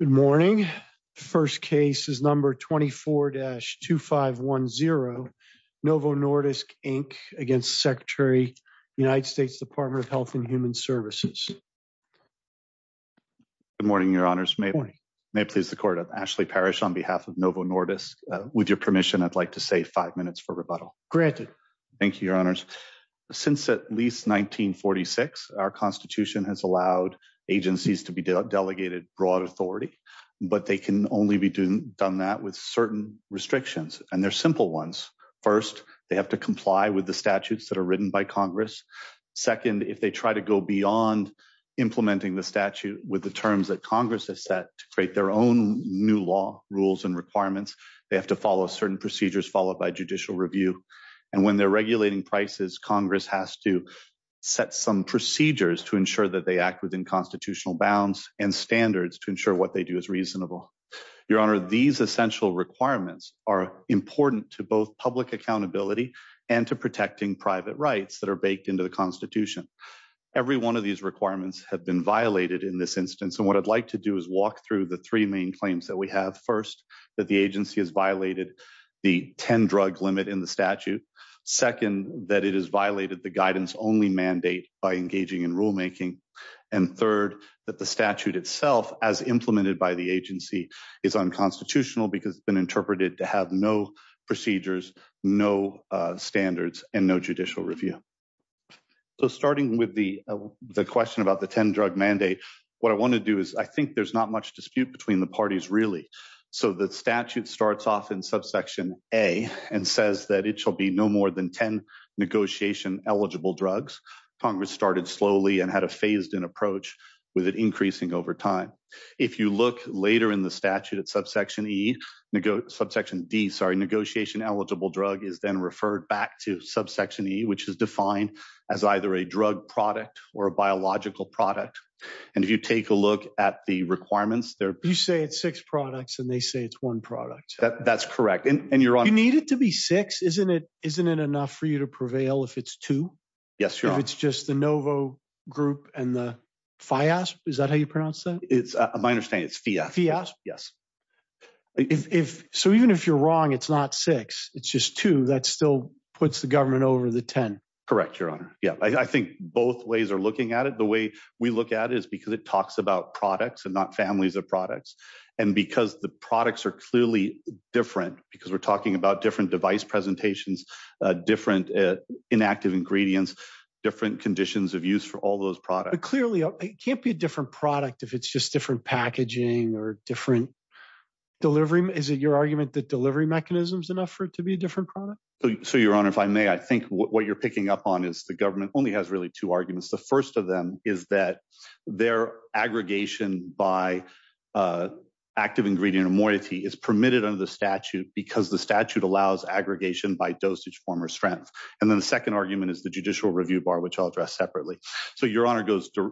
Good morning. First case is number 24-2510. Novo Nordisk Inc against Secretary, United States Department of Health and Human Services. Good morning, Your Honors. May I please the Court, I'm Ashley Parrish on behalf of Novo Nordisk. With your permission, I'd like to say five minutes for rebuttal. Thank you, Your Honors. Since at least 1946, our Constitution has allowed agencies to be delegated broad authority, but they can only be done that with certain restrictions, and they're simple ones. First, they have to comply with the statutes that are written by Congress. Second, if they try to go beyond implementing the statute with the terms that Congress has set to create their own new law rules and requirements, they have to follow certain procedures followed by judicial review. And when they're regulating prices, Congress has to set some procedures to ensure that they act within constitutional bounds and standards to ensure what they do is reasonable. Your Honor, these essential requirements are important to both public accountability and to protecting private rights that are baked into the Constitution. Every one of these requirements have been violated in this instance, and what I'd like to do is walk through the three main claims that we have. First, that the agency has violated the 10-drug limit in the mandate by engaging in rulemaking. And third, that the statute itself, as implemented by the agency, is unconstitutional because it's been interpreted to have no procedures, no standards, and no judicial review. So starting with the question about the 10-drug mandate, what I want to do is I think there's not much dispute between the parties really. So the statute starts off in Subsection A and says that it shall be no more than 10 negotiation-eligible drugs. Congress started slowly and had a phased-in approach with it increasing over time. If you look later in the statute at Subsection D, negotiation-eligible drug is then referred back to Subsection E, which is defined as either a drug product or a biological product. And if you take a look at the You say it's six products, and they say it's one product. That's correct. And you're on... You need it to be six. Isn't it enough for you to prevail if it's two? Yes, Your Honor. If it's just the Novo group and the FIASP, is that how you pronounce that? It's, my understanding, it's FIASP. Yes. So even if you're wrong, it's not six, it's just two. That still puts the government over the 10. Correct, Your Honor. Yeah, I think both ways are looking at it. The way we look at it is because it talks about products and not families of products. And because the products are clearly different, because we're talking about different device presentations, different inactive ingredients, different conditions of use for all those products. But clearly, it can't be a different product if it's just different packaging or different delivery. Is it your argument that delivery mechanism's enough for it to be a different product? So, Your Honor, if I may, I think what you're picking up on is the government only has really two arguments. The first of them is that their aggregation by active ingredient and moiety is permitted under the statute because the statute allows aggregation by dosage, form, or strength. And then the second argument is the judicial review bar, which I'll address separately. So, Your Honor,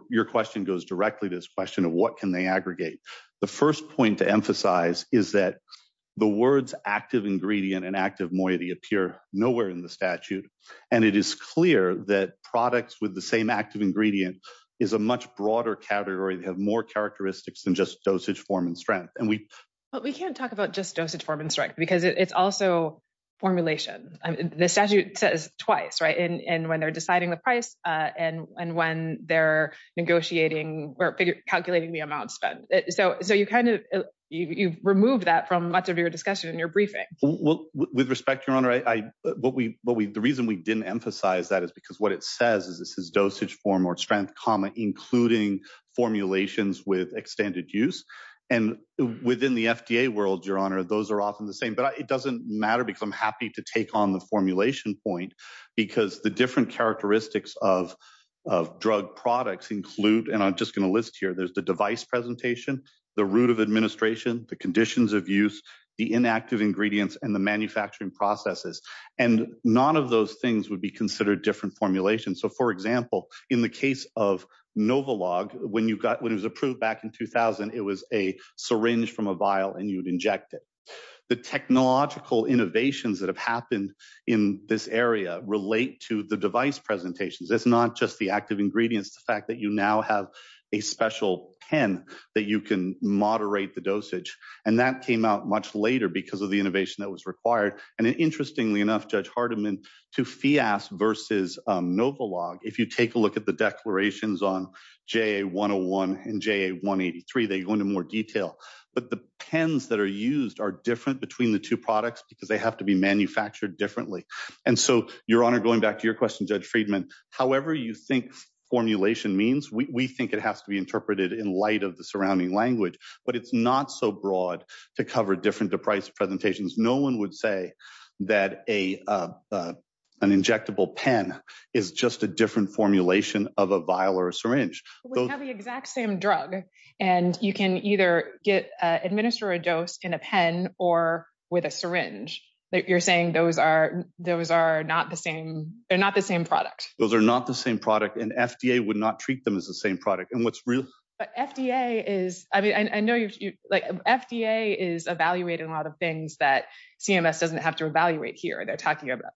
your question goes directly to this question of what can they aggregate. The first point to emphasize is that the words active ingredient and active moiety appear nowhere in the statute. And it is clear that products with the same active ingredient is a much broader category that have more characteristics than just dosage, form, and strength. But we can't talk about just dosage, form, and strength because it's also formulation. The statute says twice, right? And when they're deciding the price and when they're negotiating or calculating the amount spent. So, you've removed that from much of your discussion in your briefing. With respect, Your Honor, the reason we didn't emphasize that is because what it says is this is dosage, form, or strength, comma, including formulations with extended use. And within the FDA world, Your Honor, those are often the same. But it doesn't matter because I'm happy to take on the formulation point because the different characteristics of drug products include, and I'm just going to list here, there's the device presentation, the route of administration, the conditions of use, the inactive ingredients, and the manufacturing processes. And none of those things would be considered different formulations. So, for example, in the case of Novolog, when it was approved back in 2000, it was a syringe from a vial and you'd inject it. The technological innovations that have happened in this area relate to the device presentations. It's not just the active ingredients, the fact that you now have a special pen that you can moderate the dosage. And that came out much later because of the innovation that was required. And interestingly enough, Judge Hardiman, to FIAS versus Novolog, if you take a look at the declarations on JA101 and JA183, they go into more detail. But the pens that are used are different between the two products because they have to be manufactured differently. And so, Your Honor, going back to your question, Judge Friedman, however you think formulation means, we think it has to be interpreted in light of the surrounding language, but it's not so broad to cover different device presentations. No one would say that an injectable pen is just a different formulation of a vial or a syringe. We have the exact same drug and you can either administer a dose in a pen or with a syringe. You're saying those are not the same product. Those are not the same product and FDA would not treat them as the same product. But FDA is, I mean, I know FDA is evaluating a lot of things that CMS doesn't have to evaluate here. They're talking about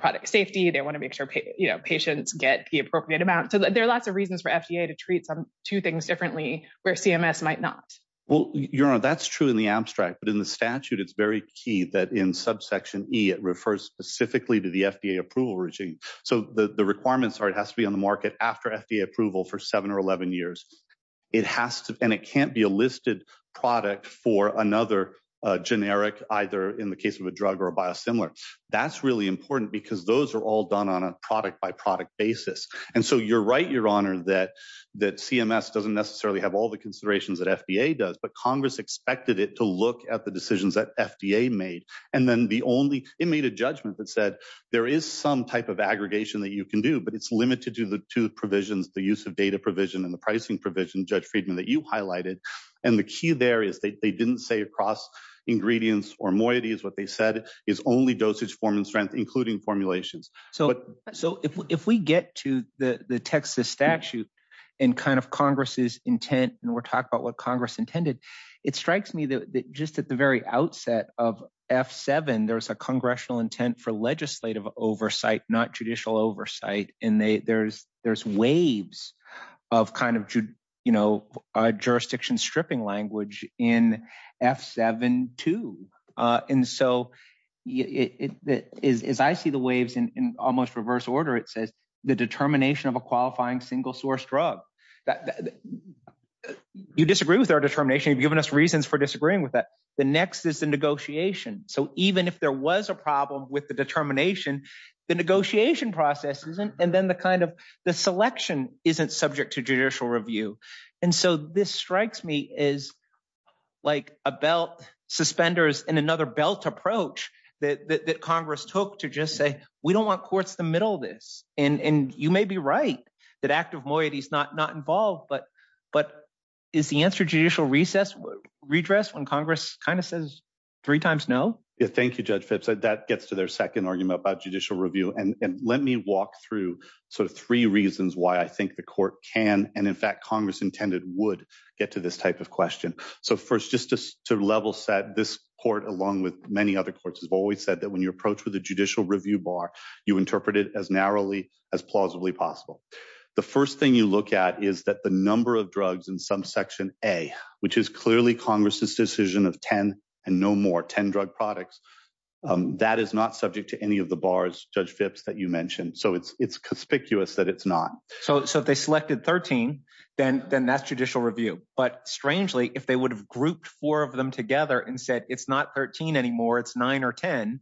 product safety. They want to make sure patients get the appropriate amount. So there are lots of reasons for FDA to treat two things differently where CMS might not. Well, Your Honor, that's true in the abstract, but in the statute, it's very key that in subsection E, it refers specifically to the FDA approval regime. So the requirements are, it has to be on the market after FDA approval for seven or 11 years. It has to, and it can't be a listed product for another generic, either in the case of a drug or a biosimilar. That's really important because those are all done on a product by product basis. And so you're right, Your Honor, that CMS doesn't necessarily have all the considerations that FDA does, but Congress expected it to look at the decisions that FDA made. And then the only, it made a judgment that said there is some type of aggregation that you can do, but it's limited to the two provisions, the use of data provision and the pricing provision, Judge Friedman, that you highlighted. And the key there is they didn't say across ingredients or moieties. What they said is only dosage form and strength, including formulations. So if we get to the Texas statute and kind of Congress's intent, and we're talking about what intended, it strikes me that just at the very outset of F7, there was a congressional intent for legislative oversight, not judicial oversight. And there's waves of kind of jurisdiction stripping language in F7-2. And so as I see the waves in almost reverse order, it says the determination of a qualifying single source drug. You disagree with our determination. You've given us reasons for disagreeing with that. The next is the negotiation. So even if there was a problem with the determination, the negotiation process isn't, and then the kind of the selection isn't subject to judicial review. And so this strikes me as like a belt suspenders and another belt approach that Congress took to just say, we don't want courts to middle this. And you may be right that active moieties not involved, but is the answer judicial recess, redress when Congress kind of says three times no? Yeah, thank you, Judge Phipps. That gets to their second argument about judicial review. And let me walk through sort of three reasons why I think the court can, and in fact, Congress intended would get to this type of question. So first, just to level set this court along with many other courts have always said that when you approach with a judicial review bar, you interpret it as narrowly as plausibly possible. The first thing you look at is that the number of drugs in some section A, which is clearly Congress's decision of 10 and no more 10 drug products. That is not subject to any of the bars, Judge Phipps that you mentioned. So it's conspicuous that it's not. So if they selected 13, then that's judicial review. But strangely, if they would have grouped four of them together and said, it's not 13 anymore, it's nine or 10.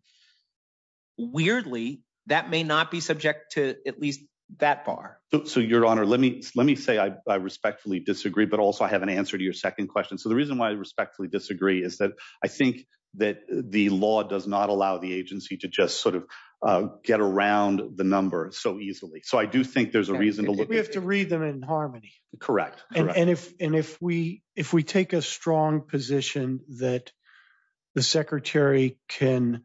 Weirdly, that may not be subject to at least that bar. So your honor, let me let me say I respectfully disagree. But also, I have an answer to your second question. So the reason why I respectfully disagree is that I think that the law does not allow the agency to just sort of get around the number so easily. So I do think there's a reason to look, we have to read them in harmony. Correct. And if and if we, if we take a strong position that the secretary can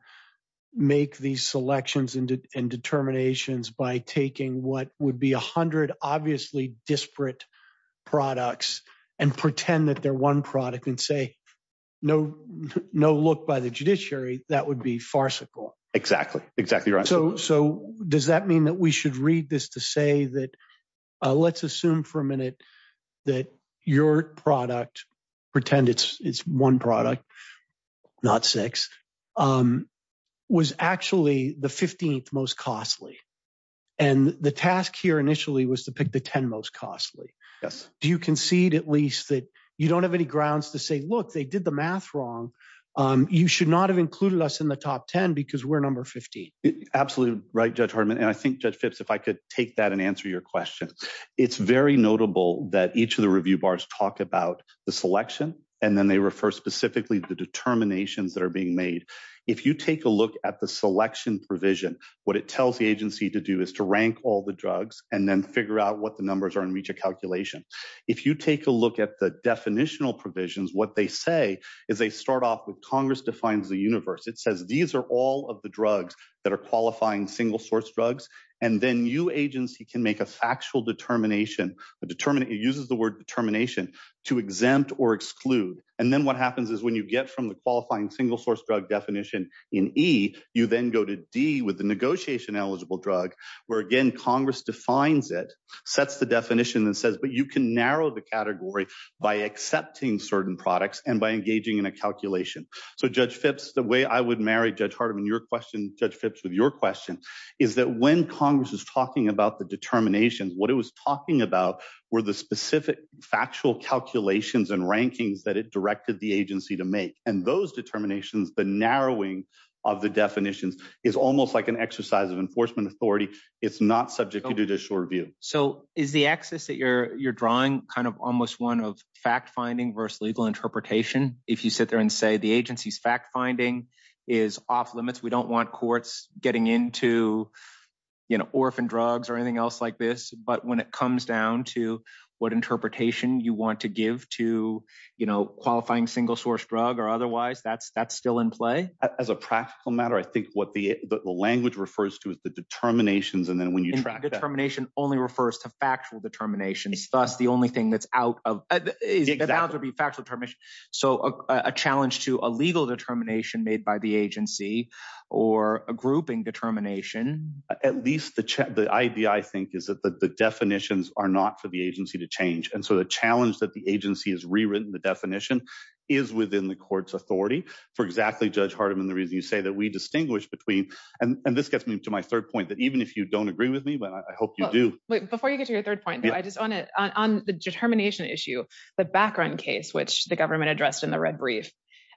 make these selections and determinations by taking what would be 100, obviously disparate products, and pretend that they're one product and say, no, no look by the judiciary, that would be farcical. Exactly, exactly. Right. So does that mean that we should read this to say that, let's assume for a minute that your product, pretend it's one product, not six, was actually the 15th most costly. And the task here initially was to pick the 10 most costly. Yes. Do you concede at least that you don't have any grounds to say, look, they did the math wrong. You should not have included us in the top 10 because we're 15. Absolutely right, Judge Hartman. And I think Judge Phipps, if I could take that and answer your question, it's very notable that each of the review bars talk about the selection, and then they refer specifically to the determinations that are being made. If you take a look at the selection provision, what it tells the agency to do is to rank all the drugs and then figure out what the numbers are and reach a calculation. If you take a look at the definitional provisions, what they say is they start off with Congress defines the universe. It says, these are all of the drugs that are qualifying single source drugs. And then you agency can make a factual determination. It uses the word determination to exempt or exclude. And then what happens is when you get from the qualifying single source drug definition in E, you then go to D with the negotiation eligible drug, where again, Congress defines it, sets the definition and says, but you can narrow the category by accepting certain products and engaging in a calculation. So Judge Phipps, the way I would marry Judge Hartman, your question, Judge Phipps, with your question is that when Congress is talking about the determinations, what it was talking about were the specific factual calculations and rankings that it directed the agency to make. And those determinations, the narrowing of the definitions is almost like an exercise of enforcement authority. It's not subject to judicial review. So is the axis that you're, you're drawing kind of almost one of fact finding versus legal interpretation. If you sit there and say the agency's fact finding is off limits, we don't want courts getting into, you know, orphan drugs or anything else like this. But when it comes down to what interpretation you want to give to, you know, qualifying single source drug or otherwise, that's, that's still in play. As a practical matter, I think what the language refers to is the determinations. And then when you track that. Determination only refers to factual determinations. Thus, the only thing that's out of, that would be factual determination. So a challenge to a legal determination made by the agency or a grouping determination. At least the, the idea I think is that the definitions are not for the agency to change. And so the challenge that the agency has rewritten the definition is within the court's authority. For exactly Judge Hartman, the reason you say that we distinguish between, and this gets me to my third point that even if you don't agree with me, but I hope you do. Before you get to your third point, I just want to, on the determination issue, the background case, which the government addressed in the red brief,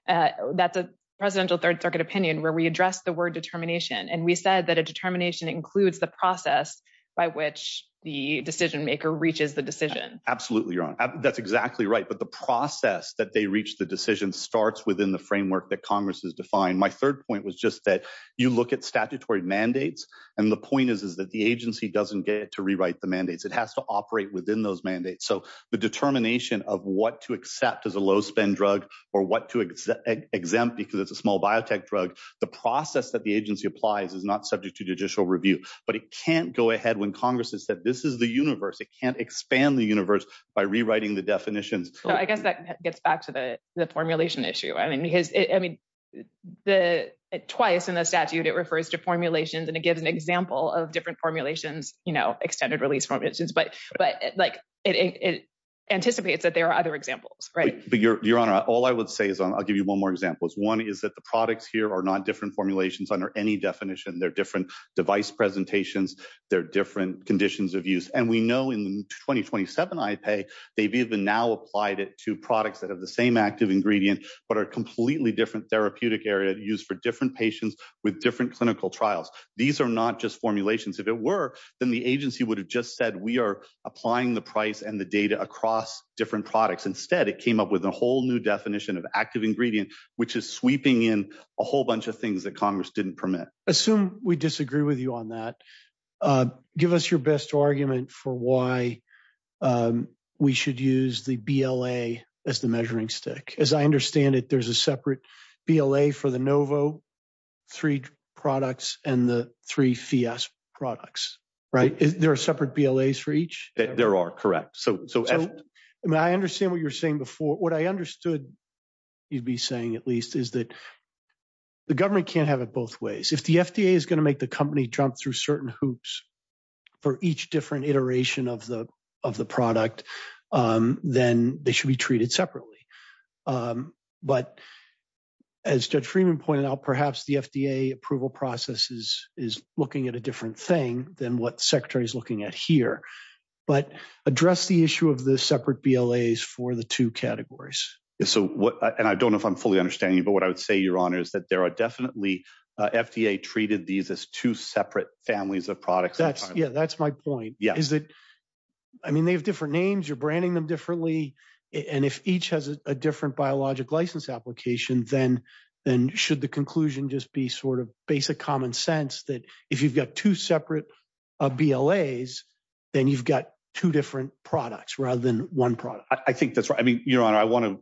that's a presidential third circuit opinion where we address the word determination. And we said that a determination includes the process by which the decision maker reaches the decision. Absolutely. You're on. That's exactly right. But the process that they reach the decision starts within the framework that Congress has defined. My third point was just that you look at statutory mandates. And the point is, is that the agency doesn't get to rewrite the mandates. It has to operate within those mandates. So the determination of what to accept as a low spend drug or what to exempt because it's a small biotech drug, the process that the agency applies is not subject to judicial review, but it can't go ahead when Congress has said, this is the universe. It can't expand the universe by rewriting the definitions. I guess that gets back to the formulation issue. I mean, because I mean, twice in the statute, it refers to formulations and it gives an example of different formulations, you know, extended release formulations, but it anticipates that there are other examples, right? But Your Honor, all I would say is, I'll give you one more example. One is that the products here are not different formulations under any definition. They're different device presentations. They're different conditions of use. And we know in 2027 IPAE, they've even now applied it to use for different patients with different clinical trials. These are not just formulations. If it were, then the agency would have just said, we are applying the price and the data across different products. Instead, it came up with a whole new definition of active ingredient, which is sweeping in a whole bunch of things that Congress didn't permit. Assume we disagree with you on that. Give us your best argument for why we should use the BLA as the measuring stick. As I understand it, there's a separate BLA for the Novo, three products and the three FIAS products, right? There are separate BLAs for each? There are, correct. So, I mean, I understand what you were saying before. What I understood you'd be saying at least is that the government can't have it both ways. If the FDA is going to make the company jump through certain hoops for each different iteration of the product, then they should be treated separately. But as Judge Freeman pointed out, perhaps the FDA approval process is looking at a different thing than what the Secretary is looking at here. But address the issue of the separate BLAs for the two categories. And I don't know if I'm fully understanding you, but what I would say, Your Honor, is that there are definitely, FDA treated these as two separate families of products. Yeah, that's my point. I mean, they have different names. You're branding them differently. And if each has a different biologic license application, then should the conclusion just be sort of basic common sense that if you've got two separate BLAs, then you've got two different products rather than one product. I think that's right. I mean, Your Honor, I want to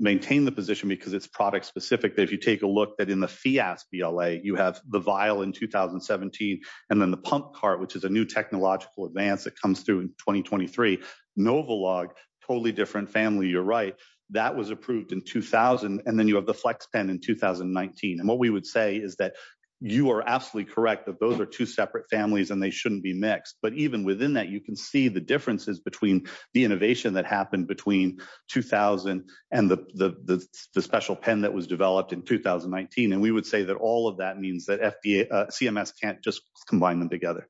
maintain the position because it's product specific that if you take a look that in the BLA, you have the vial in 2017, and then the pump cart, which is a new technological advance that comes through in 2023. Novolog, totally different family. You're right. That was approved in 2000. And then you have the FlexPen in 2019. And what we would say is that you are absolutely correct that those are two separate families and they shouldn't be mixed. But even within that, you can see the differences between the innovation that happened between 2000 and the special pen that was developed in 2019. And we would say that all of that means that CMS can't just combine them together.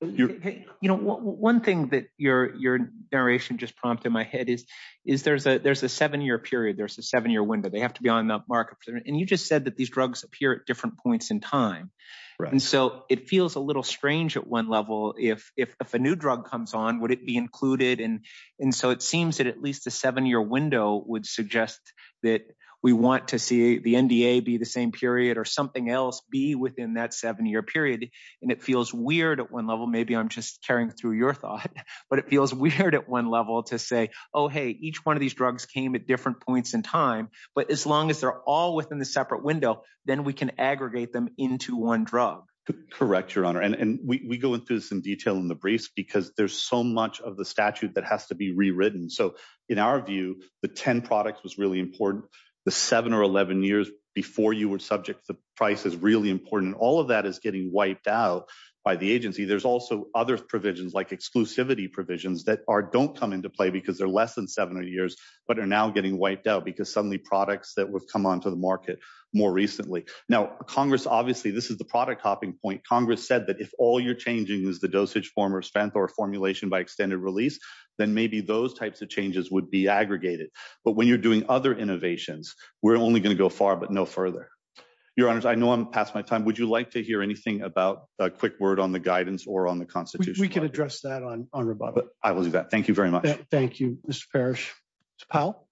One thing that your narration just prompted in my head is there's a seven-year period. There's a seven-year window. They have to be on the market. And you just said that these drugs appear at different points in time. And so it feels a little strange at one level. If a new drug comes on, would it be included? And so it seems that at least a seven-year window would suggest that we want to see the NDA be the same period or something else be within that seven-year period. And it feels weird at one level. Maybe I'm just carrying through your thought, but it feels weird at one level to say, oh, hey, each one of these drugs came at different points in time. But as long as they're all within the separate window, then we can aggregate them into one drug. Correct, Your Honor. And we go into some detail in the briefs because there's so much of the statute that has to be rewritten. So in our view, the 10 products was really important. The 7 or 11 years before you were subject to the price is really important. All of that is getting wiped out by the agency. There's also other provisions like exclusivity provisions that don't come into play because they're less than seven years, but are now getting wiped out because suddenly products that would come onto the market more recently. Now, Congress, obviously, this is the product hopping point. Congress said that if all you're changing is the dosage form or strength or formulation by extended release, then maybe those types of changes would be aggregated. But when you're doing other innovations, we're only going to go far, but no further. Your Honors, I know I'm past my time. Would you like to hear anything about a quick word on the guidance or on the Constitution? We can address that on rebuttal. I will do that. Thank you very much. Thank you, Mr. Parrish. Ms. Powell?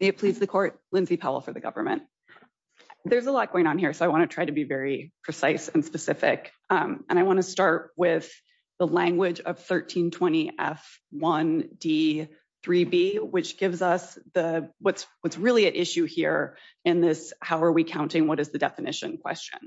May it please the Court, Lindsay Powell for the government. There's a lot going on here, so I want to try to be very precise and specific. I want to start with the language of 1320 F1D3B, which gives us what's really at issue here in this how are we is the definition question.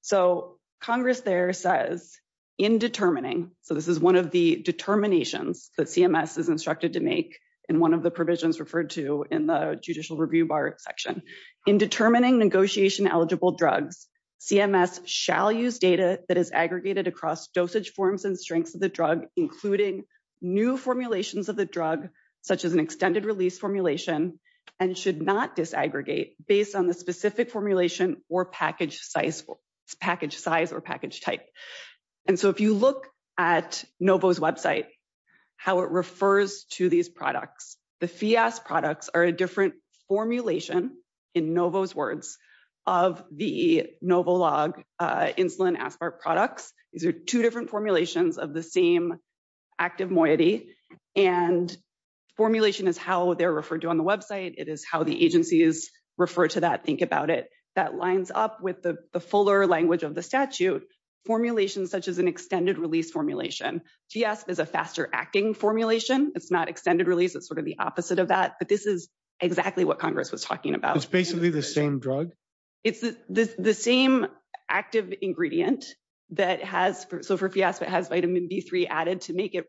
So, Congress there says, in determining, so this is one of the determinations that CMS is instructed to make in one of the provisions referred to in the judicial review bar section. In determining negotiation eligible drugs, CMS shall use data that is aggregated across dosage forms and strengths of the drug, including new formulations of the drug, such as an extended release formulation, and should not disaggregate based on the specific formulation or package size or package type. And so, if you look at NOVO's website, how it refers to these products, the FIAS products are a different formulation, in NOVO's words, of the NOVOLOG insulin aspartic products. These are two different formulations of the same active moiety, and formulation is how they're referred to on the website, it is how the agencies refer to that, think about it. That lines up with the fuller language of the statute, formulations such as an extended release formulation. FIASP is a faster acting formulation, it's not extended release, it's sort of the opposite of that, but this is exactly what Congress was talking about. It's basically the same drug? It's the same active ingredient that has, so for FIASP it has vitamin B3 added to make it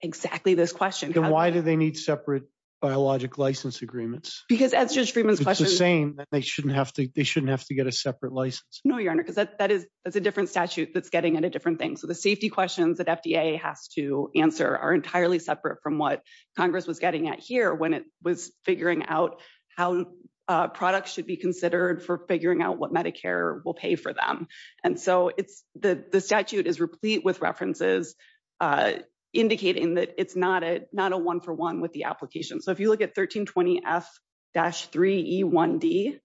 exactly this question. Then why do they need separate biologic license agreements? Because as Judge Freeman's question... It's the same, they shouldn't have to get a separate license. No, your honor, because that's a different statute that's getting at a different thing, so the safety questions that FDA has to answer are entirely separate from what Congress was getting at here when it was figuring out how products should be considered for figuring out what Medicare will pay for them. And so, the statute is replete with references indicating that it's not a one-for-one with the application. So, if you look at 1320F-3E1D,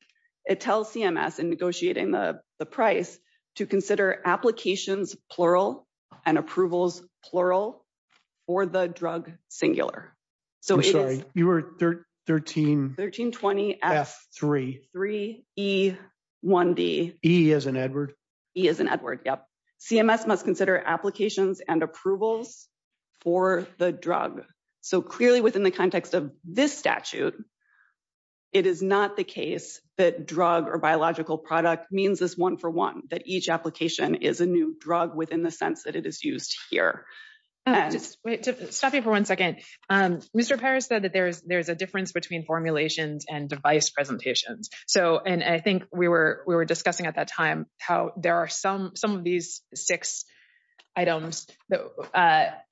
it tells CMS in negotiating the price to consider applications, plural, and approvals, plural, or the drug singular. I'm sorry, you were 13... 1320F-3E1D. E as in Edward? E as in Edward, yep. CMS must consider applications and approvals for the drug. So, clearly within the context of this statute, it is not the case that drug or biological product means this one-for-one, that each application is a new drug within the sense that it is used here. I'll just stop you for one second. Mr. Paris said that there's a difference between formulations and device presentations. And I think we were discussing at that time how there are some of these six items that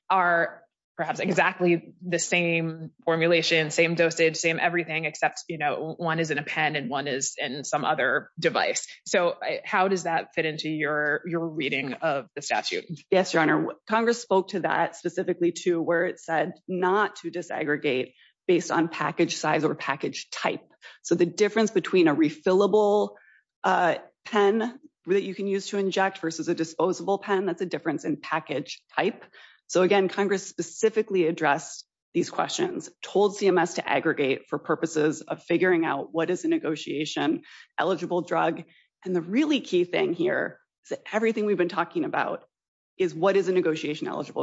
are perhaps exactly the same formulation, same dosage, same everything, except one is in a pen and one is in some other device. So, how does that fit into your reading of the statute? Yes, Your Honor, Congress spoke to that specifically to where it said not to disaggregate based on package size or package type. So, the difference between a refillable pen that you can use to inject versus a disposable pen, that's a difference in package type. So, again, Congress specifically addressed these questions, told CMS to aggregate for purposes of figuring out what is a negotiation-eligible drug. And the really key thing here is that everything we've been talking about is what is a And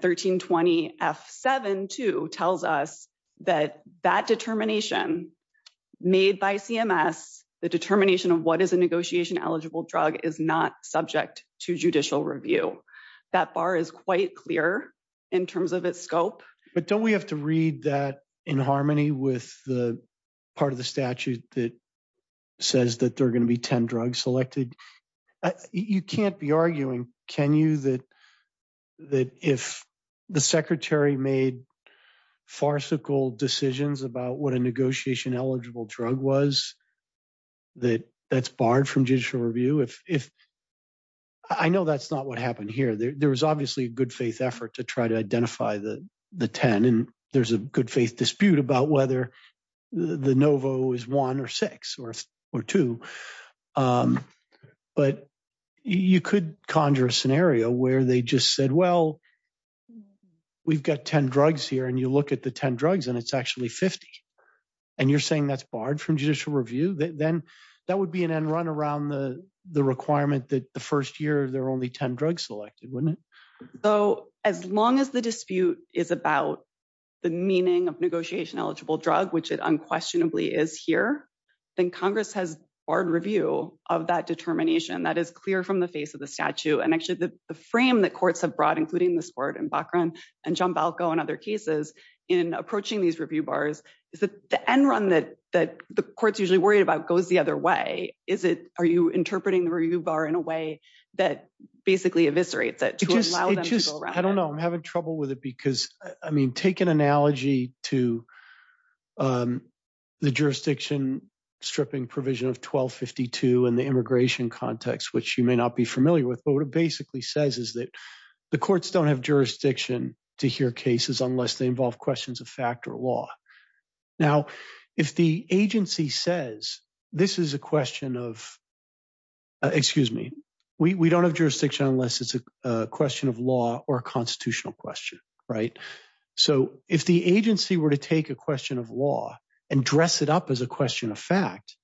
Section 7.2 tells us that that determination made by CMS, the determination of what is a negotiation-eligible drug, is not subject to judicial review. That bar is quite clear in terms of its scope. But don't we have to read that in harmony with the part of the statute that says that there are going to be 10 drugs selected? You can't be arguing, can you, that if the Secretary made farcical decisions about what a negotiation-eligible drug was, that that's barred from judicial review? I know that's not what happened here. There was obviously a good-faith effort to try to identify the 10, and there's a good-faith But you could conjure a scenario where they just said, well, we've got 10 drugs here, and you look at the 10 drugs, and it's actually 50. And you're saying that's barred from judicial review? Then that would be an end-run around the requirement that the first year, there are only 10 drugs selected, wouldn't it? So, as long as the dispute is about the meaning of negotiation-eligible drug, which it unquestionably is here, then Congress has barred review of that determination. That is clear from the face of the statute. And actually, the frame that courts have brought, including this court in Bachran and Giambalco and other cases, in approaching these review bars, is that the end-run that the court's usually worried about goes the other way. Are you interpreting the review bar in a way that basically eviscerates it to allow them to go around it? I don't know. I'm having trouble with it because, I mean, take an analogy to the jurisdiction stripping provision of 1252 in the immigration context, which you may not be familiar with, but what it basically says is that the courts don't have jurisdiction to hear cases unless they involve questions of fact or law. Now, if the agency says, this is a question of, excuse me, we don't have jurisdiction unless it's a question of law or a constitutional question, right? So if the agency were to take a question of law and dress it up as a question of fact,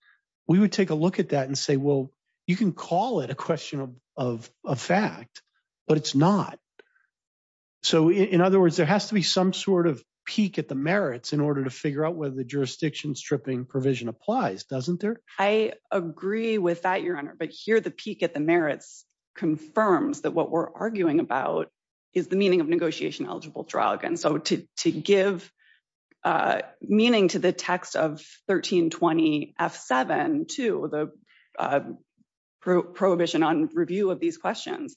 we would take a look at that and say, well, you can call it a question of a fact, but it's not. So in other words, there has to be some sort of peak at the merits in order to figure out whether the jurisdiction stripping provision applies, doesn't there? I agree with that, Your Honor, but here the peak at the merits confirms that what we're arguing about is the meaning of negotiation eligible drug. And so to give meaning to the text of 1320 F7 to the prohibition on review of these questions,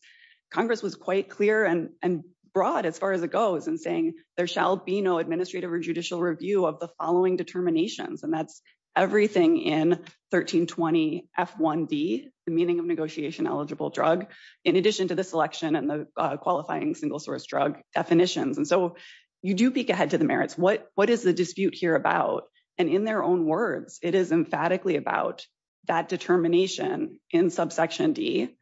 Congress was quite clear and broad as far as it goes in saying there shall be no administrative or judicial review of the following determinations. And that's everything in 1320 F1D, the meaning of negotiation eligible drug, in addition to the selection and the qualifying single source drug definitions. And so you do peak ahead to the merits. What is the dispute here about? And in their own words, it is emphatically about that determination in subsection D.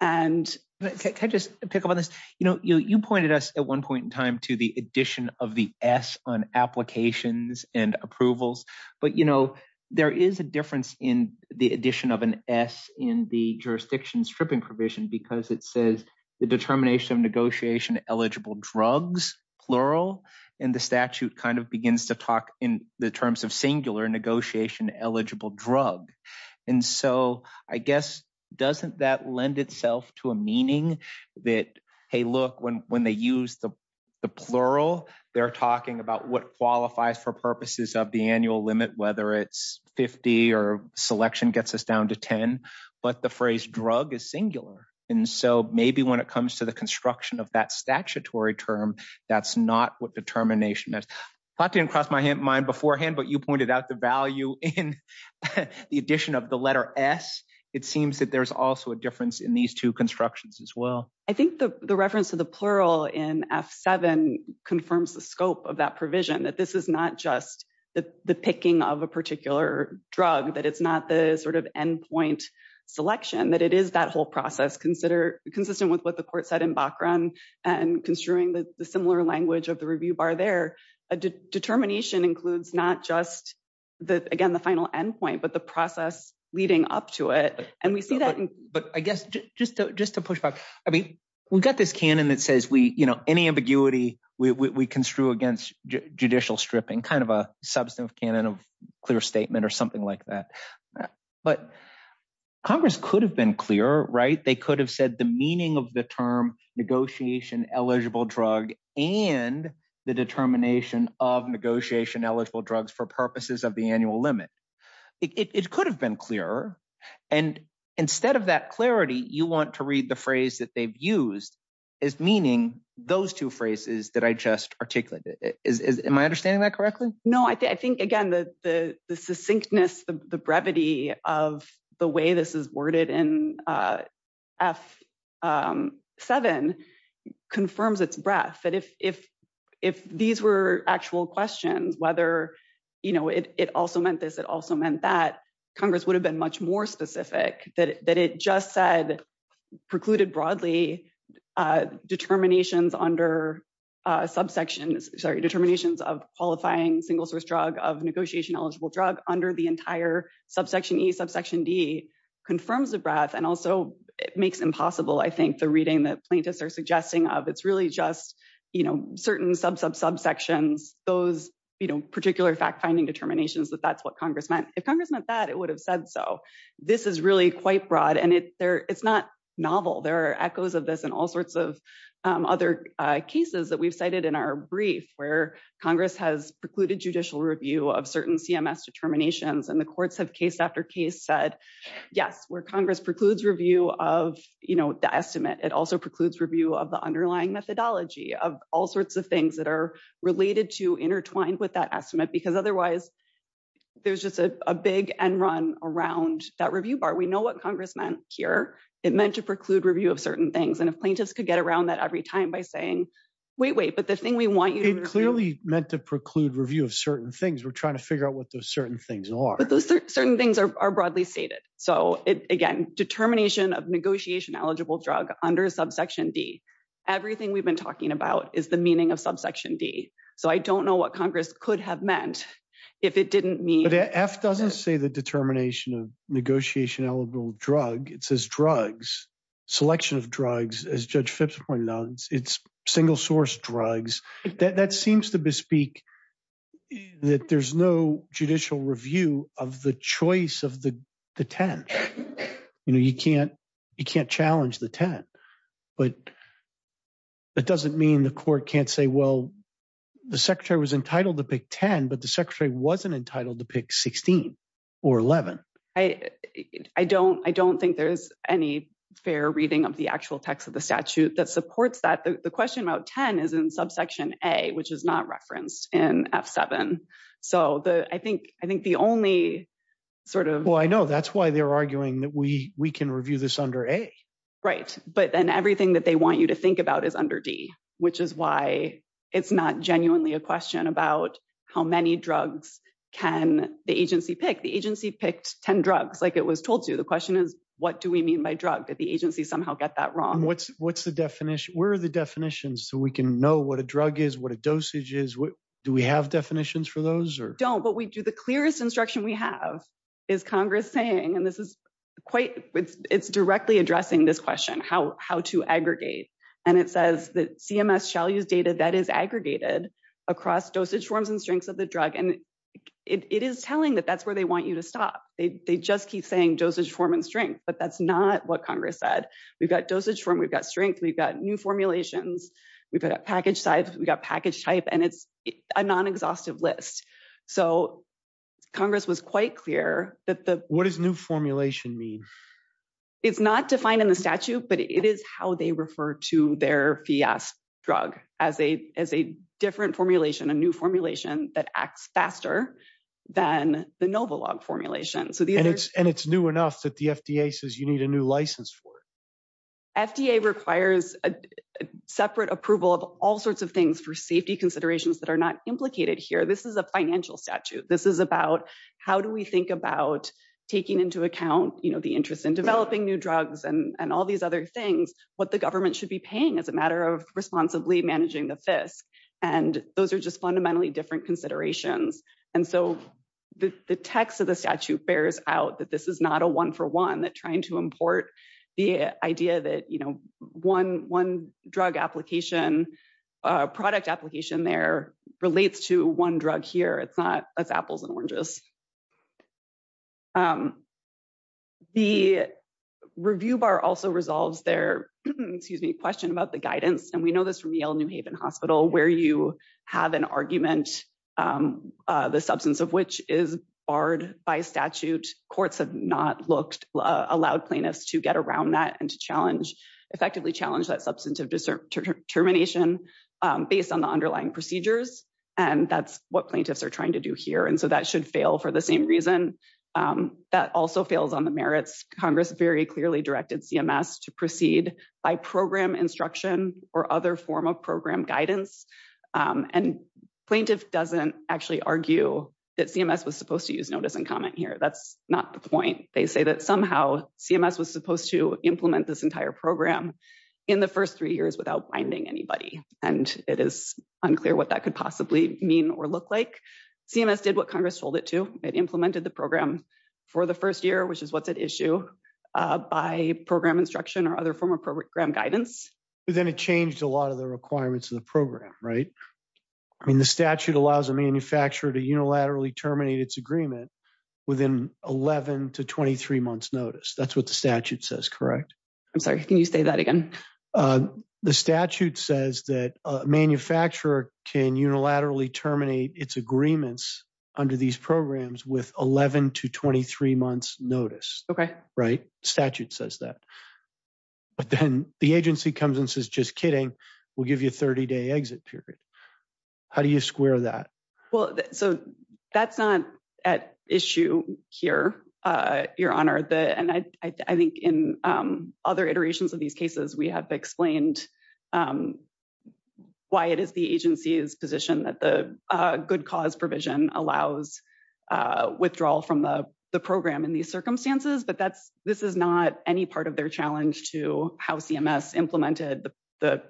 And can I just pick up on this? You know, you pointed us at one point in time to the addition of the S on applications and approvals. But, you know, there is a difference in the addition of an S in the jurisdiction stripping provision because it says the determination of negotiation eligible drugs, plural, and the statute kind of begins to talk in the terms of singular negotiation eligible drug. And so I guess doesn't that lend itself to a meaning that, hey, look, when they use the plural, they're talking about what qualifies for purposes of the annual limit, whether it's 50 or selection gets us down to 10. But the phrase drug is singular. And so maybe when it comes to the construction of that statutory term, that's not what determination is. That didn't cross my mind beforehand, but you pointed out the value in the addition of the letter S. It seems that there's also a difference in these two constructions as well. I think the reference to the plural in F7 confirms the scope of that provision, that this is not just the picking of a particular drug, that it's not the sort of endpoint selection, that it is that whole process consistent with what the court said in Bachran and construing the similar language of the review bar there. A determination includes not just, again, the final endpoint, but the process leading up to it. And we see that. But I guess just to push back, I mean, we've got this canon that says any ambiguity we construe against judicial stripping, kind of a substantive canon of clear statement or something like that. But Congress could have been clearer, right? They could have said the meaning of the term negotiation eligible drug and the determination of negotiation eligible drugs for purposes of the annual limit. It could have been clearer. And instead of that clarity, you want to read the phrase that they've used as meaning those two phrases that I just articulated. Am I understanding that correctly? No, I think, again, the succinctness, the brevity of the way this is worded in F7 confirms its breadth. If these were actual questions, whether it also meant this, it also meant that, Congress would have been much more specific that it just said precluded broadly determinations under subsections, sorry, determinations of qualifying single source drug of negotiation eligible drug under the entire subsection E, subsection D confirms the breadth. And also it makes impossible, I think, the reading that plaintiffs are suggesting of. It's really just certain subsections, those particular fact finding determinations that that's what Congress meant. If Congress meant that, it would have said so. This is really quite broad and it's not novel. There are echoes of this and all sorts of other cases that we've cited in our brief where Congress has precluded judicial review of certain CMS determinations and the courts have case after case said, yes, where Congress precludes review of the estimate, it also precludes review of the underlying methodology of all sorts of things that are related to intertwined with that estimate, because otherwise there's just a big end run around that review bar. We know what Congress meant here. It meant to preclude review of certain things. And if plaintiffs could get around that every time by saying, wait, wait, but the thing we want you to- It clearly meant to preclude review of certain things. We're trying to figure out what those certain things are. But those certain things are broadly stated. So again, determination of negotiation eligible drug under subsection D, everything we've been talking about is the meaning of subsection D. So I don't know what Congress could have meant if it didn't mean- But F doesn't say the determination of negotiation eligible drug. It says drugs, selection of drugs, as Judge Phipps pointed out. It's single source drugs. That seems to bespeak that there's no judicial review of the choice of the 10. You can't challenge the 10. But that doesn't mean the court can't say, well, the secretary was entitled to pick 10, but the secretary wasn't entitled to pick 16 or 11. I don't think there's any fair reading of the actual text of the statute that supports the question about 10 is in subsection A, which is not referenced in F7. So I think the only sort of- Well, I know that's why they're arguing that we can review this under A. Right. But then everything that they want you to think about is under D, which is why it's not genuinely a question about how many drugs can the agency pick. The agency picked 10 drugs like it was told to. The question is, what do we mean by drug? Did the agency somehow get that wrong? What's the definition? Where are the definitions so we can know what a drug is, what a dosage is? Do we have definitions for those or- Don't, but we do. The clearest instruction we have is Congress saying, and it's directly addressing this question, how to aggregate. And it says that CMS shall use data that is aggregated across dosage forms and strengths of the drug. And it is telling that that's where they want you to stop. They just keep saying dosage form and strength, but that's not what Congress said. We've got dosage form, we've got strength, we've got new formulations, we've got package size, we've got package type, and it's a non-exhaustive list. So Congress was quite clear that the- What does new formulation mean? It's not defined in the statute, but it is how they refer to their FIAS drug as a different formulation, a new formulation that acts faster than the Novalog formulation. And it's new enough that the FDA says you need a new license for it. FDA requires a separate approval of all sorts of things for safety considerations that are not implicated here. This is a financial statute. This is about how do we think about taking into account the interest in developing new drugs and all these other things, what the government should be paying as a matter of responsibly managing the FISC. And those are just fundamentally different considerations. And so the text of the statute bears out that this is not a one for one, that trying to the idea that one drug application, product application there relates to one drug here. It's not, that's apples and oranges. The review bar also resolves their, excuse me, question about the guidance. And we know this from Yale New Haven Hospital, where you have an argument, the substance of which is barred by statute. Courts have not looked, allowed plaintiffs to get around that and to challenge, effectively challenge that substantive determination based on the underlying procedures. And that's what plaintiffs are trying to do here. And so that should fail for the same reason that also fails on the merits. Congress very clearly directed CMS to proceed by program instruction or other form of program guidance. And plaintiff doesn't actually argue that CMS was supposed to use notice and comment here. That's not the point. They say that somehow CMS was supposed to implement this entire program in the first three years without binding anybody. And it is unclear what that could possibly mean or look like. CMS did what Congress told it to. It implemented the program for the first year, which is what's at issue by program instruction or other form of program guidance. But then it changed a lot of the requirements of the program, right? I mean, the statute allows a manufacturer to unilaterally terminate its agreement within 11 to 23 months notice. That's what the statute says, correct? I'm sorry. Can you say that again? The statute says that a manufacturer can unilaterally terminate its agreements under these programs with 11 to 23 months notice. Okay. Right? Statute says that. But then the agency comes and says, just kidding. We'll give you a 30-day exit period. How do you square that? Well, so that's not at issue here, Your Honor. And I think in other iterations of these cases, we have explained why it is the agency's position that the good cause provision allows withdrawal from the program in these circumstances. But this is not any part of their challenge to how CMS implemented the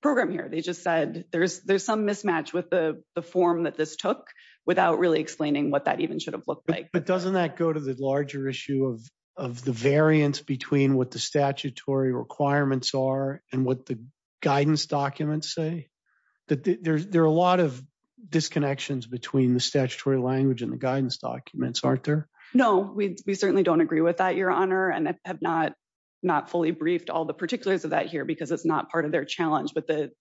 program here. They just said there's some mismatch with the form that this took without really explaining what that even should have looked like. But doesn't that go to the larger issue of the variance between what the statutory requirements are and what the guidance documents say? There are a lot of disconnections between the statutory language and the guidance documents, aren't there? No, we certainly don't agree with that, Your Honor. And I have not fully briefed all the particulars of that here because it's not part of their challenge. But the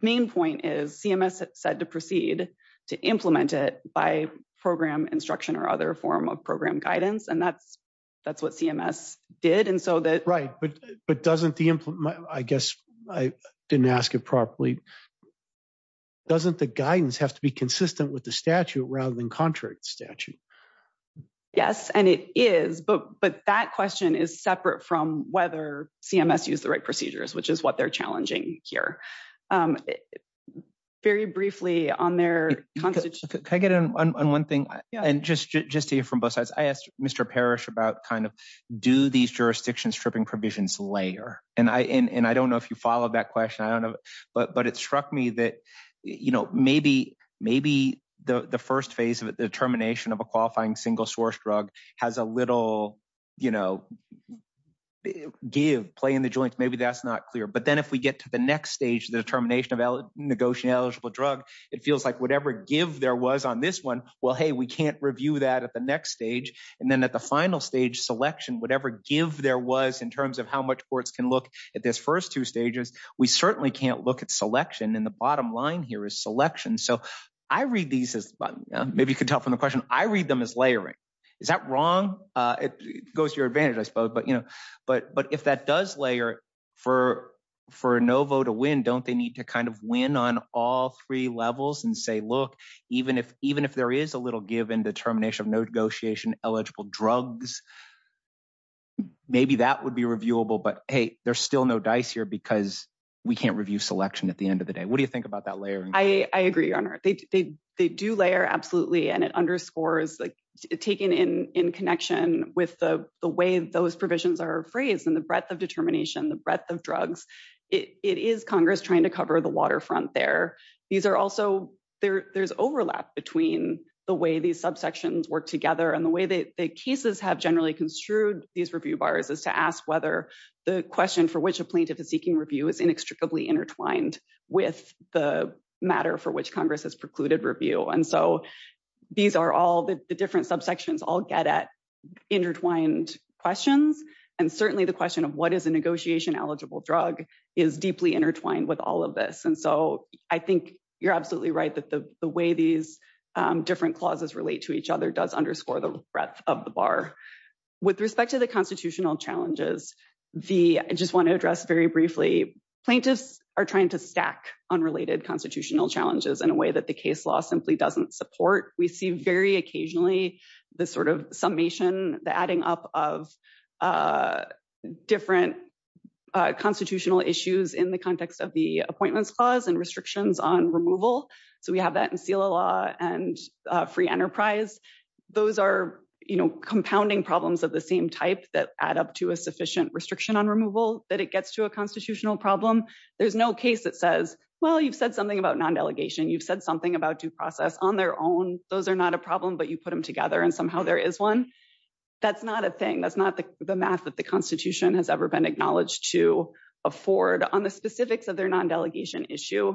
main point is CMS said to proceed to implement it by program instruction or other form of program guidance. And that's what CMS did. And so that... Right, but doesn't the implement... I guess I didn't ask it properly. Doesn't the guidance have to be consistent with the statute rather than contrary to statute? Yes, and it is. But that question is separate from whether CMS used the right procedures, which is what they're challenging here. Very briefly on their... Can I get in on one thing? And just to hear from both sides, I asked Mr. Parrish about kind of do these jurisdictions stripping provisions layer? And I don't know if you followed that question. I don't know. But it struck me that maybe the first phase of the termination of a qualifying single source drug has a little give, play in the joints. Maybe that's not clear. Then if we get to the next stage, the termination of a negotiating eligible drug, it feels like whatever give there was on this one, well, hey, we can't review that at the next stage. And then at the final stage selection, whatever give there was in terms of how much courts can look at this first two stages, we certainly can't look at selection. And the bottom line here is selection. So I read these as... Maybe you can tell from the question, I read them as layering. Is that wrong? It goes to your advantage, I suppose. But if that does layer for a no vote to win, don't they need to kind of win on all three levels and say, look, even if there is a little give in the termination of no negotiation eligible drugs, maybe that would be reviewable. But hey, there's still no dice here because we can't review selection at the end of the day. What do you think about that layering? I agree, Your Honor. They do layer, absolutely. And it underscores taking in connection with the way those provisions are phrased and the breadth of determination, the breadth of drugs. It is Congress trying to cover the waterfront there. These are also, there's overlap between the way these subsections work together and the way that the cases have generally construed these review bars is to ask whether the question for which a plaintiff is seeking review is inextricably intertwined with the matter for which Congress has precluded review. And so these are all the different subsections all get at intertwined questions. And certainly the question of what is a negotiation eligible drug is deeply intertwined with all of this. And so I think you're absolutely right that the way these different clauses relate to each other does underscore the breadth of the bar. With respect to the constitutional challenges, I just want to address very briefly, plaintiffs are trying to stack unrelated constitutional challenges in a way that the case law simply doesn't support. We see very occasionally the sort of summation, the adding up of different constitutional issues in the context of the appointments clause and restrictions on removal. So we have that in CELA law and free enterprise. Those are compounding problems of the same type that add up to a sufficient restriction on removal that it gets to a constitutional problem. There's no case that says, well, you've said something about non-delegation. You've said something about due process on their own. Those are not a problem, but you put them together and somehow there is one. That's not a thing. That's not the math that the Constitution has ever been acknowledged to afford on the specifics of their non-delegation issue.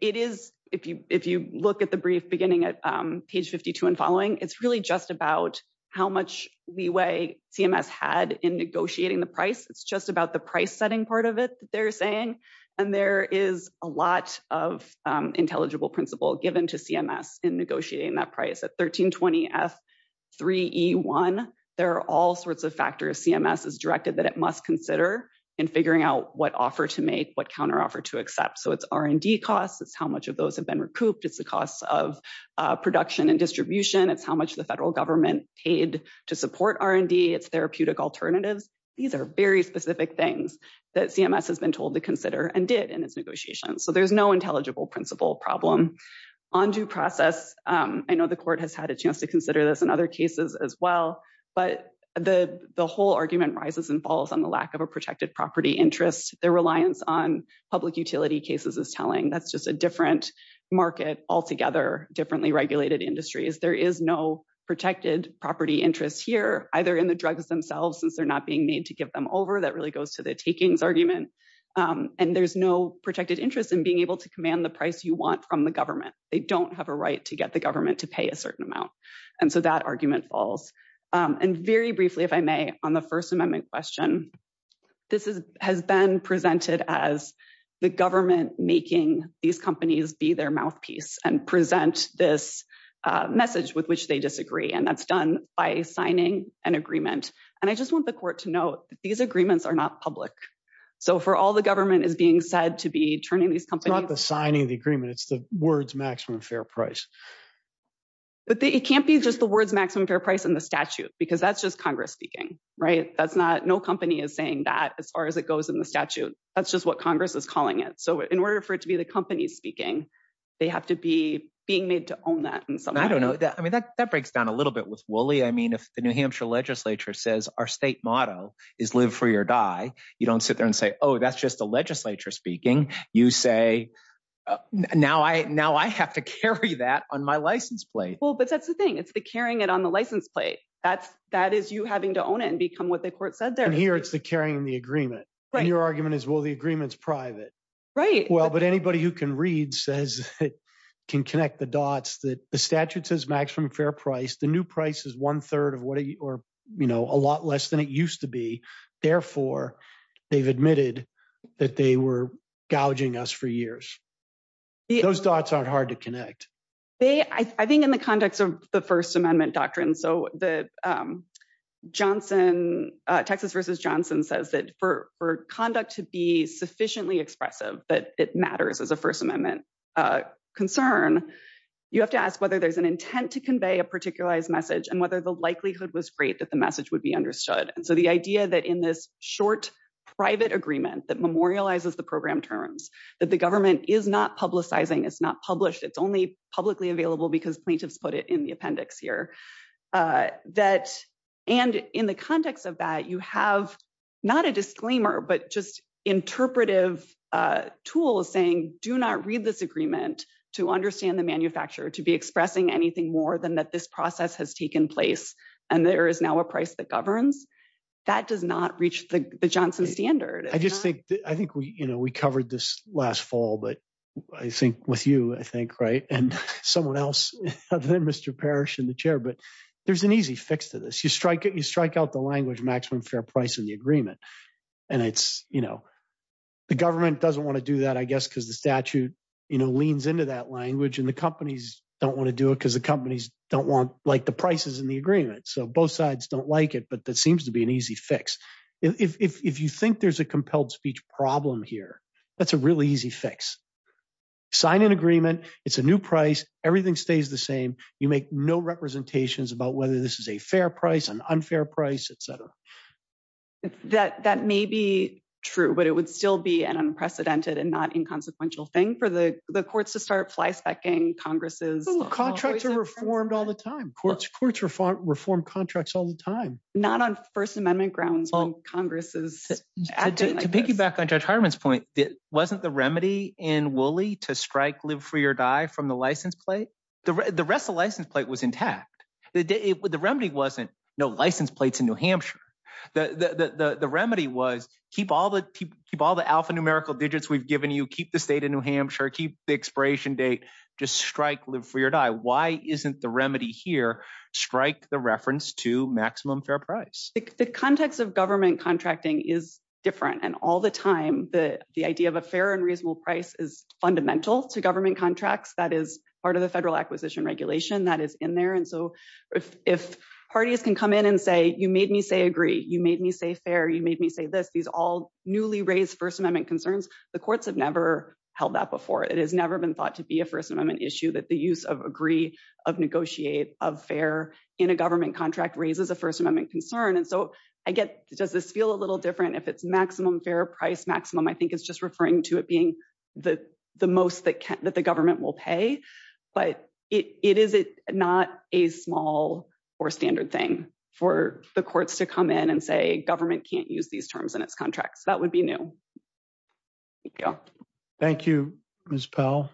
It is, if you look at the brief beginning at page 52 and following, it's really just about how much leeway CMS had in negotiating the price. It's just about the price setting part of it that they're saying. And there is a lot of intelligible principle given to CMS in negotiating that price. At 1320F3E1, there are all sorts of factors CMS is directed that it must consider in figuring out what offer to make, what counteroffer to accept. So it's R&D costs. It's how much of those have been recouped. It's the cost of production and distribution. It's how much the federal government paid to support R&D. It's therapeutic alternatives. These are very specific things that CMS has been told to consider and did in its negotiation. So there's no intelligible principle problem. On due process, I know the court has had a chance to consider this in other cases as well, but the whole argument rises and falls on the lack of a protected property interest. Their reliance on public utility cases is telling. That's just a different market altogether, differently regulated industries. There is no protected property interest here, either in the drugs themselves, since they're not being made to give them over. That really goes to the takings argument. And there's no protected interest in being able to command the price you want from the government. They don't have a right to get the government to pay a certain amount. And so that argument falls. And very briefly, if I may, on the First Amendment question, this has been presented as the government making these companies be their mouthpiece and present this message with which they disagree. And that's done by signing an agreement. And I just want the court to note that these agreements are not public. So for all the government is being said to be turning these companies. It's not the signing of the agreement. It's the words maximum fair price. But it can't be just the words maximum fair price in the statute, because that's just Congress speaking, right? That's not no company is saying that as far as it goes in the statute. That's just what Congress is calling it. So in order for it to be the company speaking, they have to be being made to own that. And so I don't know that. I mean, that that breaks down a little bit with Woolley. I mean, if the New Hampshire legislature says our state motto is live free or die, you don't sit there and say, oh, that's just the legislature speaking. You say now I now I have to carry that on my license plate. Well, but that's the thing. It's the carrying it on the license plate. That's that is you having to own it and become what the court said there. And here it's the carrying the agreement. Your argument is, well, the agreement's private, right? Well, but anybody who can read says it can connect the dots that the statute says maximum fair price. The new price is one third of what or a lot less than it used to be. Therefore, they've admitted that they were gouging us for years. Those dots aren't hard to connect. They I think in the context of the First Amendment doctrine. So the Johnson Texas versus Johnson says that for for conduct to be sufficiently expressive, that it matters as a First Amendment concern, you have to ask whether there's an intent to convey a particularized message and whether the likelihood was great that the message would be understood. And so the idea that in this short private agreement that memorializes the program terms that the government is not publicizing, it's not published, it's only publicly available because plaintiffs put it in the appendix here that and in the context of that, you have not a disclaimer, but just interpretive tools saying do not read this agreement to understand the manufacturer to be expressing anything more than that this process has taken place. And there is now a price that governs that does not reach the Johnson standard. I just think I think we covered this last fall, but I think with you, I think right and someone else other than Mr. Parrish in the chair. But there's an easy fix to this. You strike it, you strike out the language maximum fair price in the agreement. And it's the government doesn't want to do that, I guess, because the statute leans into that language and the companies don't want to do it because the companies don't want like the prices in the agreement. So both sides don't like it. But that seems to be an easy fix. If you think there's a compelled speech problem here, that's a really easy fix. Sign an agreement. It's a new price. Everything stays the same. You make no representations about whether this is a fair price, an unfair price, etc. That may be true, but it would still be an unprecedented and not inconsequential thing for the courts to start fly specking. Congress's contracts are reformed all the time. Courts reformed contracts all the time. Not on First Amendment grounds. To piggyback on Judge Hartman's point, it wasn't the remedy in Woolley to strike, live, free or die from the license plate. The rest of the license plate was intact. The remedy wasn't no license plates in New Hampshire. The remedy was keep all the keep all the alphanumerical digits we've given you. Keep the state of New Hampshire. Keep the expiration date. Just strike, live, free or die. Why isn't the remedy here? Strike the reference to maximum fair price. The context of government contracting is different. And all the time, the idea of a fair and reasonable price is fundamental to government contracts. That is part of the federal acquisition regulation that is in there. And so if parties can come in and say, you made me say agree. You made me say fair. You made me say this. These all newly raised First Amendment concerns. The courts have never held that before. It has never been thought to be a First Amendment issue that the use of agree, of negotiate, of fair in a government contract raises a First Amendment concern. And so I get, does this feel a little different if it's maximum fair price maximum? I think it's just referring to it being the most that the government will pay. But it is not a small or standard thing for the courts to come in and say government can't use these terms in its contracts. That would be new. Thank you, Ms. Powell.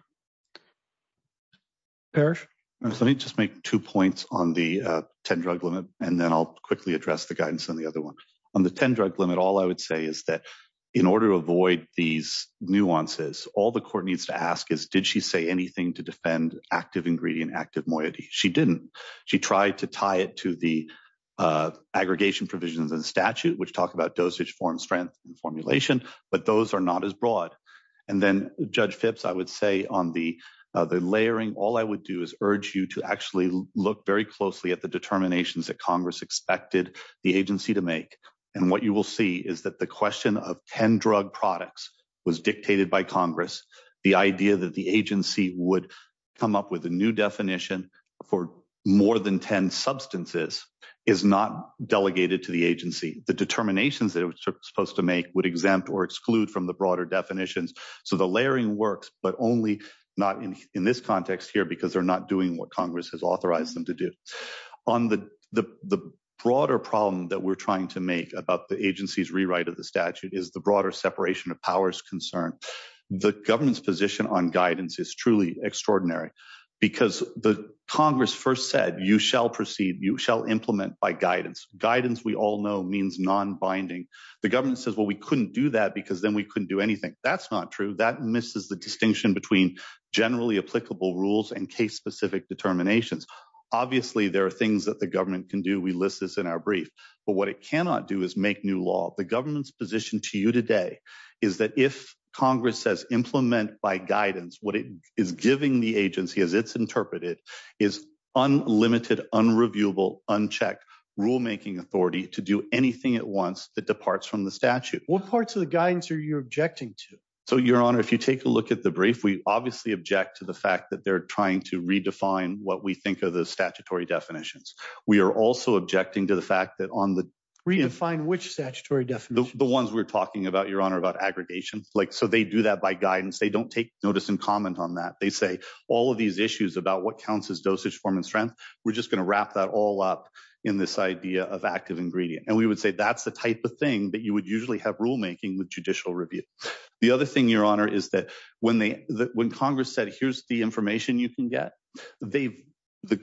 Parrish? Let me just make two points on the 10 drug limit, and then I'll quickly address the guidance on the other one. On the 10 drug limit, all I would say is that in order to avoid these nuances, all the court needs to ask is, did she say anything to defend active ingredient, active moiety? She didn't. She tried to tie it to the aggregation provisions of the statute, which talk about dosage, form, strength, and formulation, but those are not as broad. And then Judge Phipps, I would say on the layering, all I would do is urge you to actually look very closely at the determinations that Congress expected the agency to make. And what you will see is that the question of 10 drug products was dictated by Congress. The idea that the agency would come up with a new definition for more than 10 substances is not delegated to the agency. The determinations that it was supposed to make would exempt or exclude from the broader definitions. So the layering works, but only not in this context here, because they're not doing what Congress has authorized them to do. On the broader problem that we're trying to make about the agency's rewrite of the statute is the broader separation of powers concern. The government's position on guidance is truly extraordinary, because the Congress first said, you shall proceed, you shall implement by guidance. Guidance, we all know, means non-binding. The government says, well, we couldn't do that because then we couldn't do anything. That's not true. That misses the distinction between generally applicable rules and case-specific determinations. Obviously, there are things that the government can do. We list this in our brief. But what it cannot do is make new law. The government's position to you today is that if Congress says implement by guidance, what it is giving the agency, as it's interpreted, is unlimited, unreviewable, unchecked rule-making authority to do anything it wants that departs from the statute. What parts of the guidance are you objecting to? So, Your Honor, if you take a look at the brief, we obviously object to the fact that they're trying to redefine what we think are the statutory definitions. We are also objecting to the fact that on the... Redefine which statutory definition? The ones we're talking about, Your Honor, about aggregation. So they do that by guidance. They don't take notice and comment on that. They say all of these issues about what counts as dosage, form, and strength, we're just going to wrap that all up in this idea of active ingredient. And we would say that's the type of thing that you would usually have rule-making with judicial review. The other thing, Your Honor, is that when Congress said, here's the information you can get, the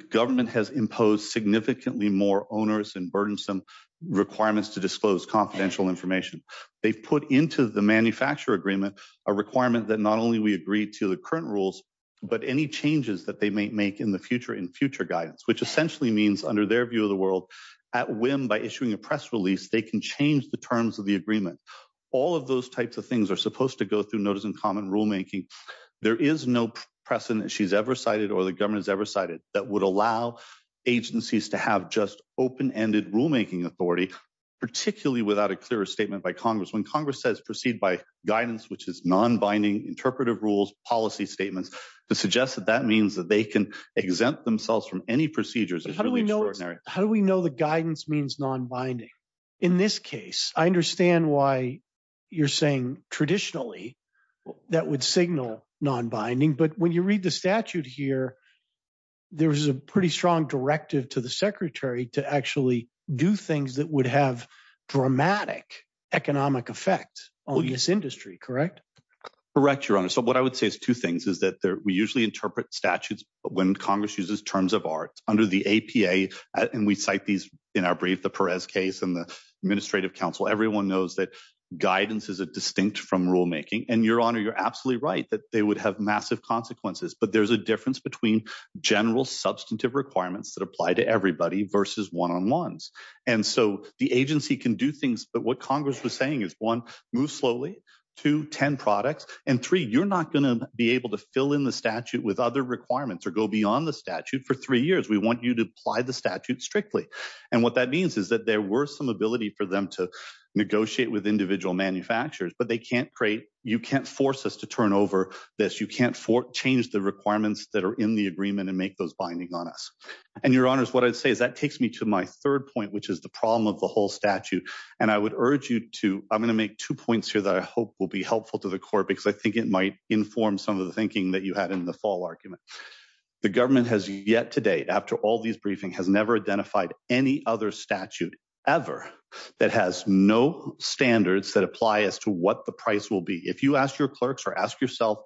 government has imposed significantly more onerous and burdensome requirements to disclose confidential information. They've put into the manufacturer agreement a requirement that not only we agree to the current rules, but any changes that they may make in the future in future guidance, which essentially means under their view of the world, at whim by issuing a press release, they can change the terms of the agreement. All of those types of things are supposed to go through notice and comment rule-making. There is no precedent she's ever cited or the government has ever cited that would allow agencies to have just open-ended rule-making authority, particularly without a clearer statement by Congress. When Congress says proceed by guidance, which is non-binding, interpretive rules, policy statements, to suggest that that means that they can exempt themselves from any procedures is really extraordinary. How do we know the guidance means non-binding? In this case, I understand why you're saying traditionally that would signal non-binding, but when you read the statute here, there was a pretty strong directive to the secretary to actually do things that would have dramatic economic effect on this industry, correct? Correct, Your Honor. So what I would say is two things is that we usually interpret statutes when Congress uses terms of art. Under the APA, and we cite these in our brief, the Perez case and the administrative council, everyone knows that guidance is distinct from rule-making. And Your Honor, you're absolutely right that they would have massive consequences, but there's a difference between general substantive requirements that apply to everybody versus one-on-ones. And so the agency can do things, but what Congress was saying is one, move slowly, two, 10 products, and three, you're not going to be able to fill in the statute with other requirements or go beyond the statute for three years. We want you to apply the statute strictly. And what that means is that there were some ability for them to negotiate with individual manufacturers, but they can't create, you can't force us to turn over this. You can't change the requirements that are in the agreement and make those binding on us. And Your Honor, what I'd say is that takes me to my third point, which is the problem of the whole statute. And I would urge you to, I'm going to make two points here that I hope will be helpful to the court because I think it might inform some of the thinking that you had in the fall argument. The government has yet to date, after all these briefings, has never identified any other statute ever that has no standards that apply as to what the price will be. If you ask your clerks or ask yourself,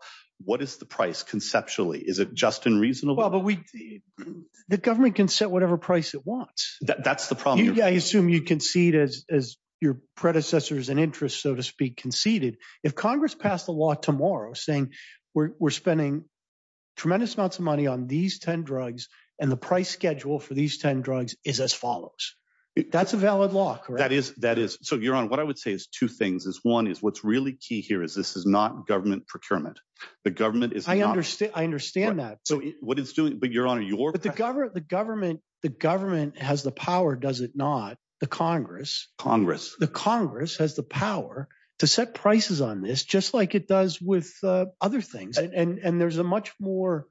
what is the price conceptually? Is it just and reasonable? Well, but the government can set whatever price it wants. That's the problem. I assume you concede as your predecessors and interests, so to speak, conceded. If Congress passed a law tomorrow saying we're spending tremendous amounts of money on these 10 drugs and the price schedule for these 10 drugs is as follows. That's a valid law, correct? That is, that is. So Your Honor, what I would say is two things is one is what's really key here is this is not government procurement. The government is- I understand. I understand that. So what it's doing, but Your Honor, your- But the government, the government, the government has the power, does it not? The Congress. The Congress has the power to set prices on this just like it does with other things. And there's a much more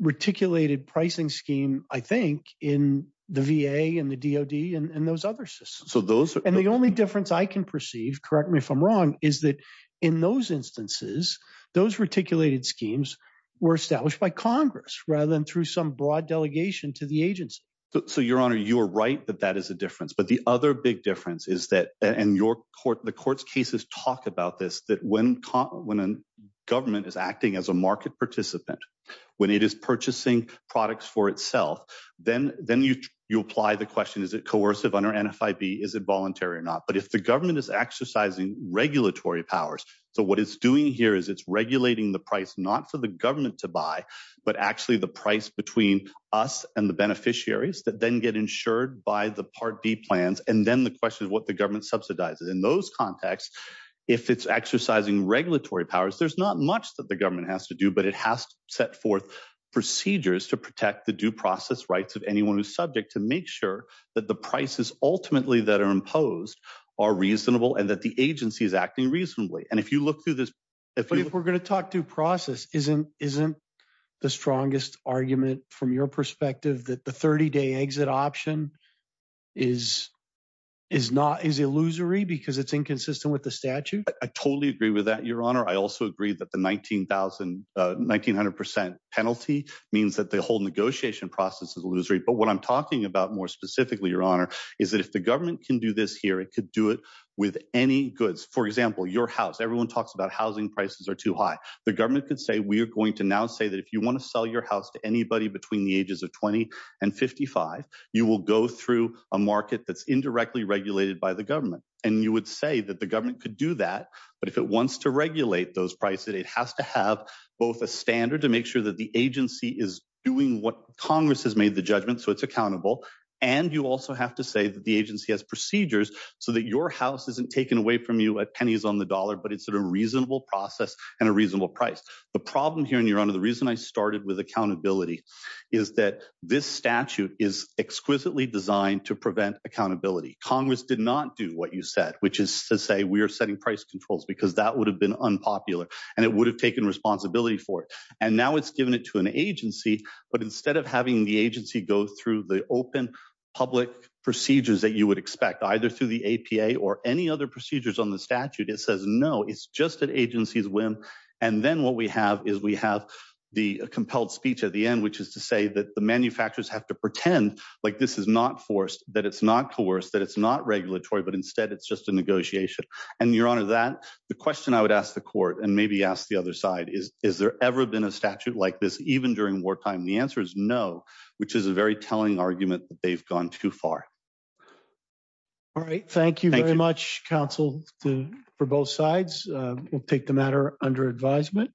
reticulated pricing scheme, I think, in the VA and the DOD and those other systems. So those- And the only difference I can perceive, correct me if I'm wrong, is that in those instances, those reticulated schemes were established by Congress rather than through some broad delegation to the agency. So Your Honor, you are right that that is a difference. But the other big difference is that, and your court, the court's cases talk about this, that when a government is acting as a market participant, when it is purchasing products for itself, then you apply the question, is it coercive under NFIB? Is it voluntary or not? But if the government is exercising regulatory powers, so what it's doing here is it's regulating the price, not for the government to buy, but actually the price between us and the beneficiaries that then get insured by the Part D plans. And then the question is what the government subsidizes. In those contexts, if it's exercising regulatory powers, there's not much that the government has to do, but it has to set forth procedures to protect the due process rights of anyone who's subject to make sure that the prices ultimately that are imposed are reasonable and that the agency is acting reasonably. And if you look through this- But if we're going to talk due process, isn't the strongest argument from your perspective that the 30-day exit option is illusory because it's inconsistent with the statute? I totally agree with that, Your Honor. I also agree that the 1900% penalty means that the whole negotiation process is illusory. But what I'm talking about more specifically, Your Honor, is that if the government can do this here, it could do it with any goods. For example, your house. Everyone talks about housing prices are too high. The government could say, we are going to now say that if you want to sell your house to anybody between the ages of 20 and 55, you will go through a market that's indirectly regulated by the government. And you would say that the government could do that. But if it wants to regulate those prices, it has to have both a standard to make sure that the agency is doing what Congress has made the judgment, so it's accountable. And you also have to say that the agency has procedures so that your house isn't taken away from you at pennies on the dollar, but it's a reasonable process and a reasonable price. The problem here, Your Honor, the reason I started with accountability is that this statute is exquisitely designed to prevent accountability. Congress did not do what you said, which is to say we are setting price controls because that would have been unpopular and it would have taken responsibility for it. And now it's given it to an agency. But instead of having the agency go through the open public procedures that you would either through the APA or any other procedures on the statute, it says, no, it's just an agency's whim. And then what we have is we have the compelled speech at the end, which is to say that the manufacturers have to pretend like this is not forced, that it's not coerced, that it's not regulatory, but instead it's just a negotiation. And Your Honor, that the question I would ask the court and maybe ask the other side is, is there ever been a statute like this even during wartime? The answer is no, which is a very telling argument that they've gone too far. All right. Thank you very much, counsel, for both sides. We'll take the matter under advisement.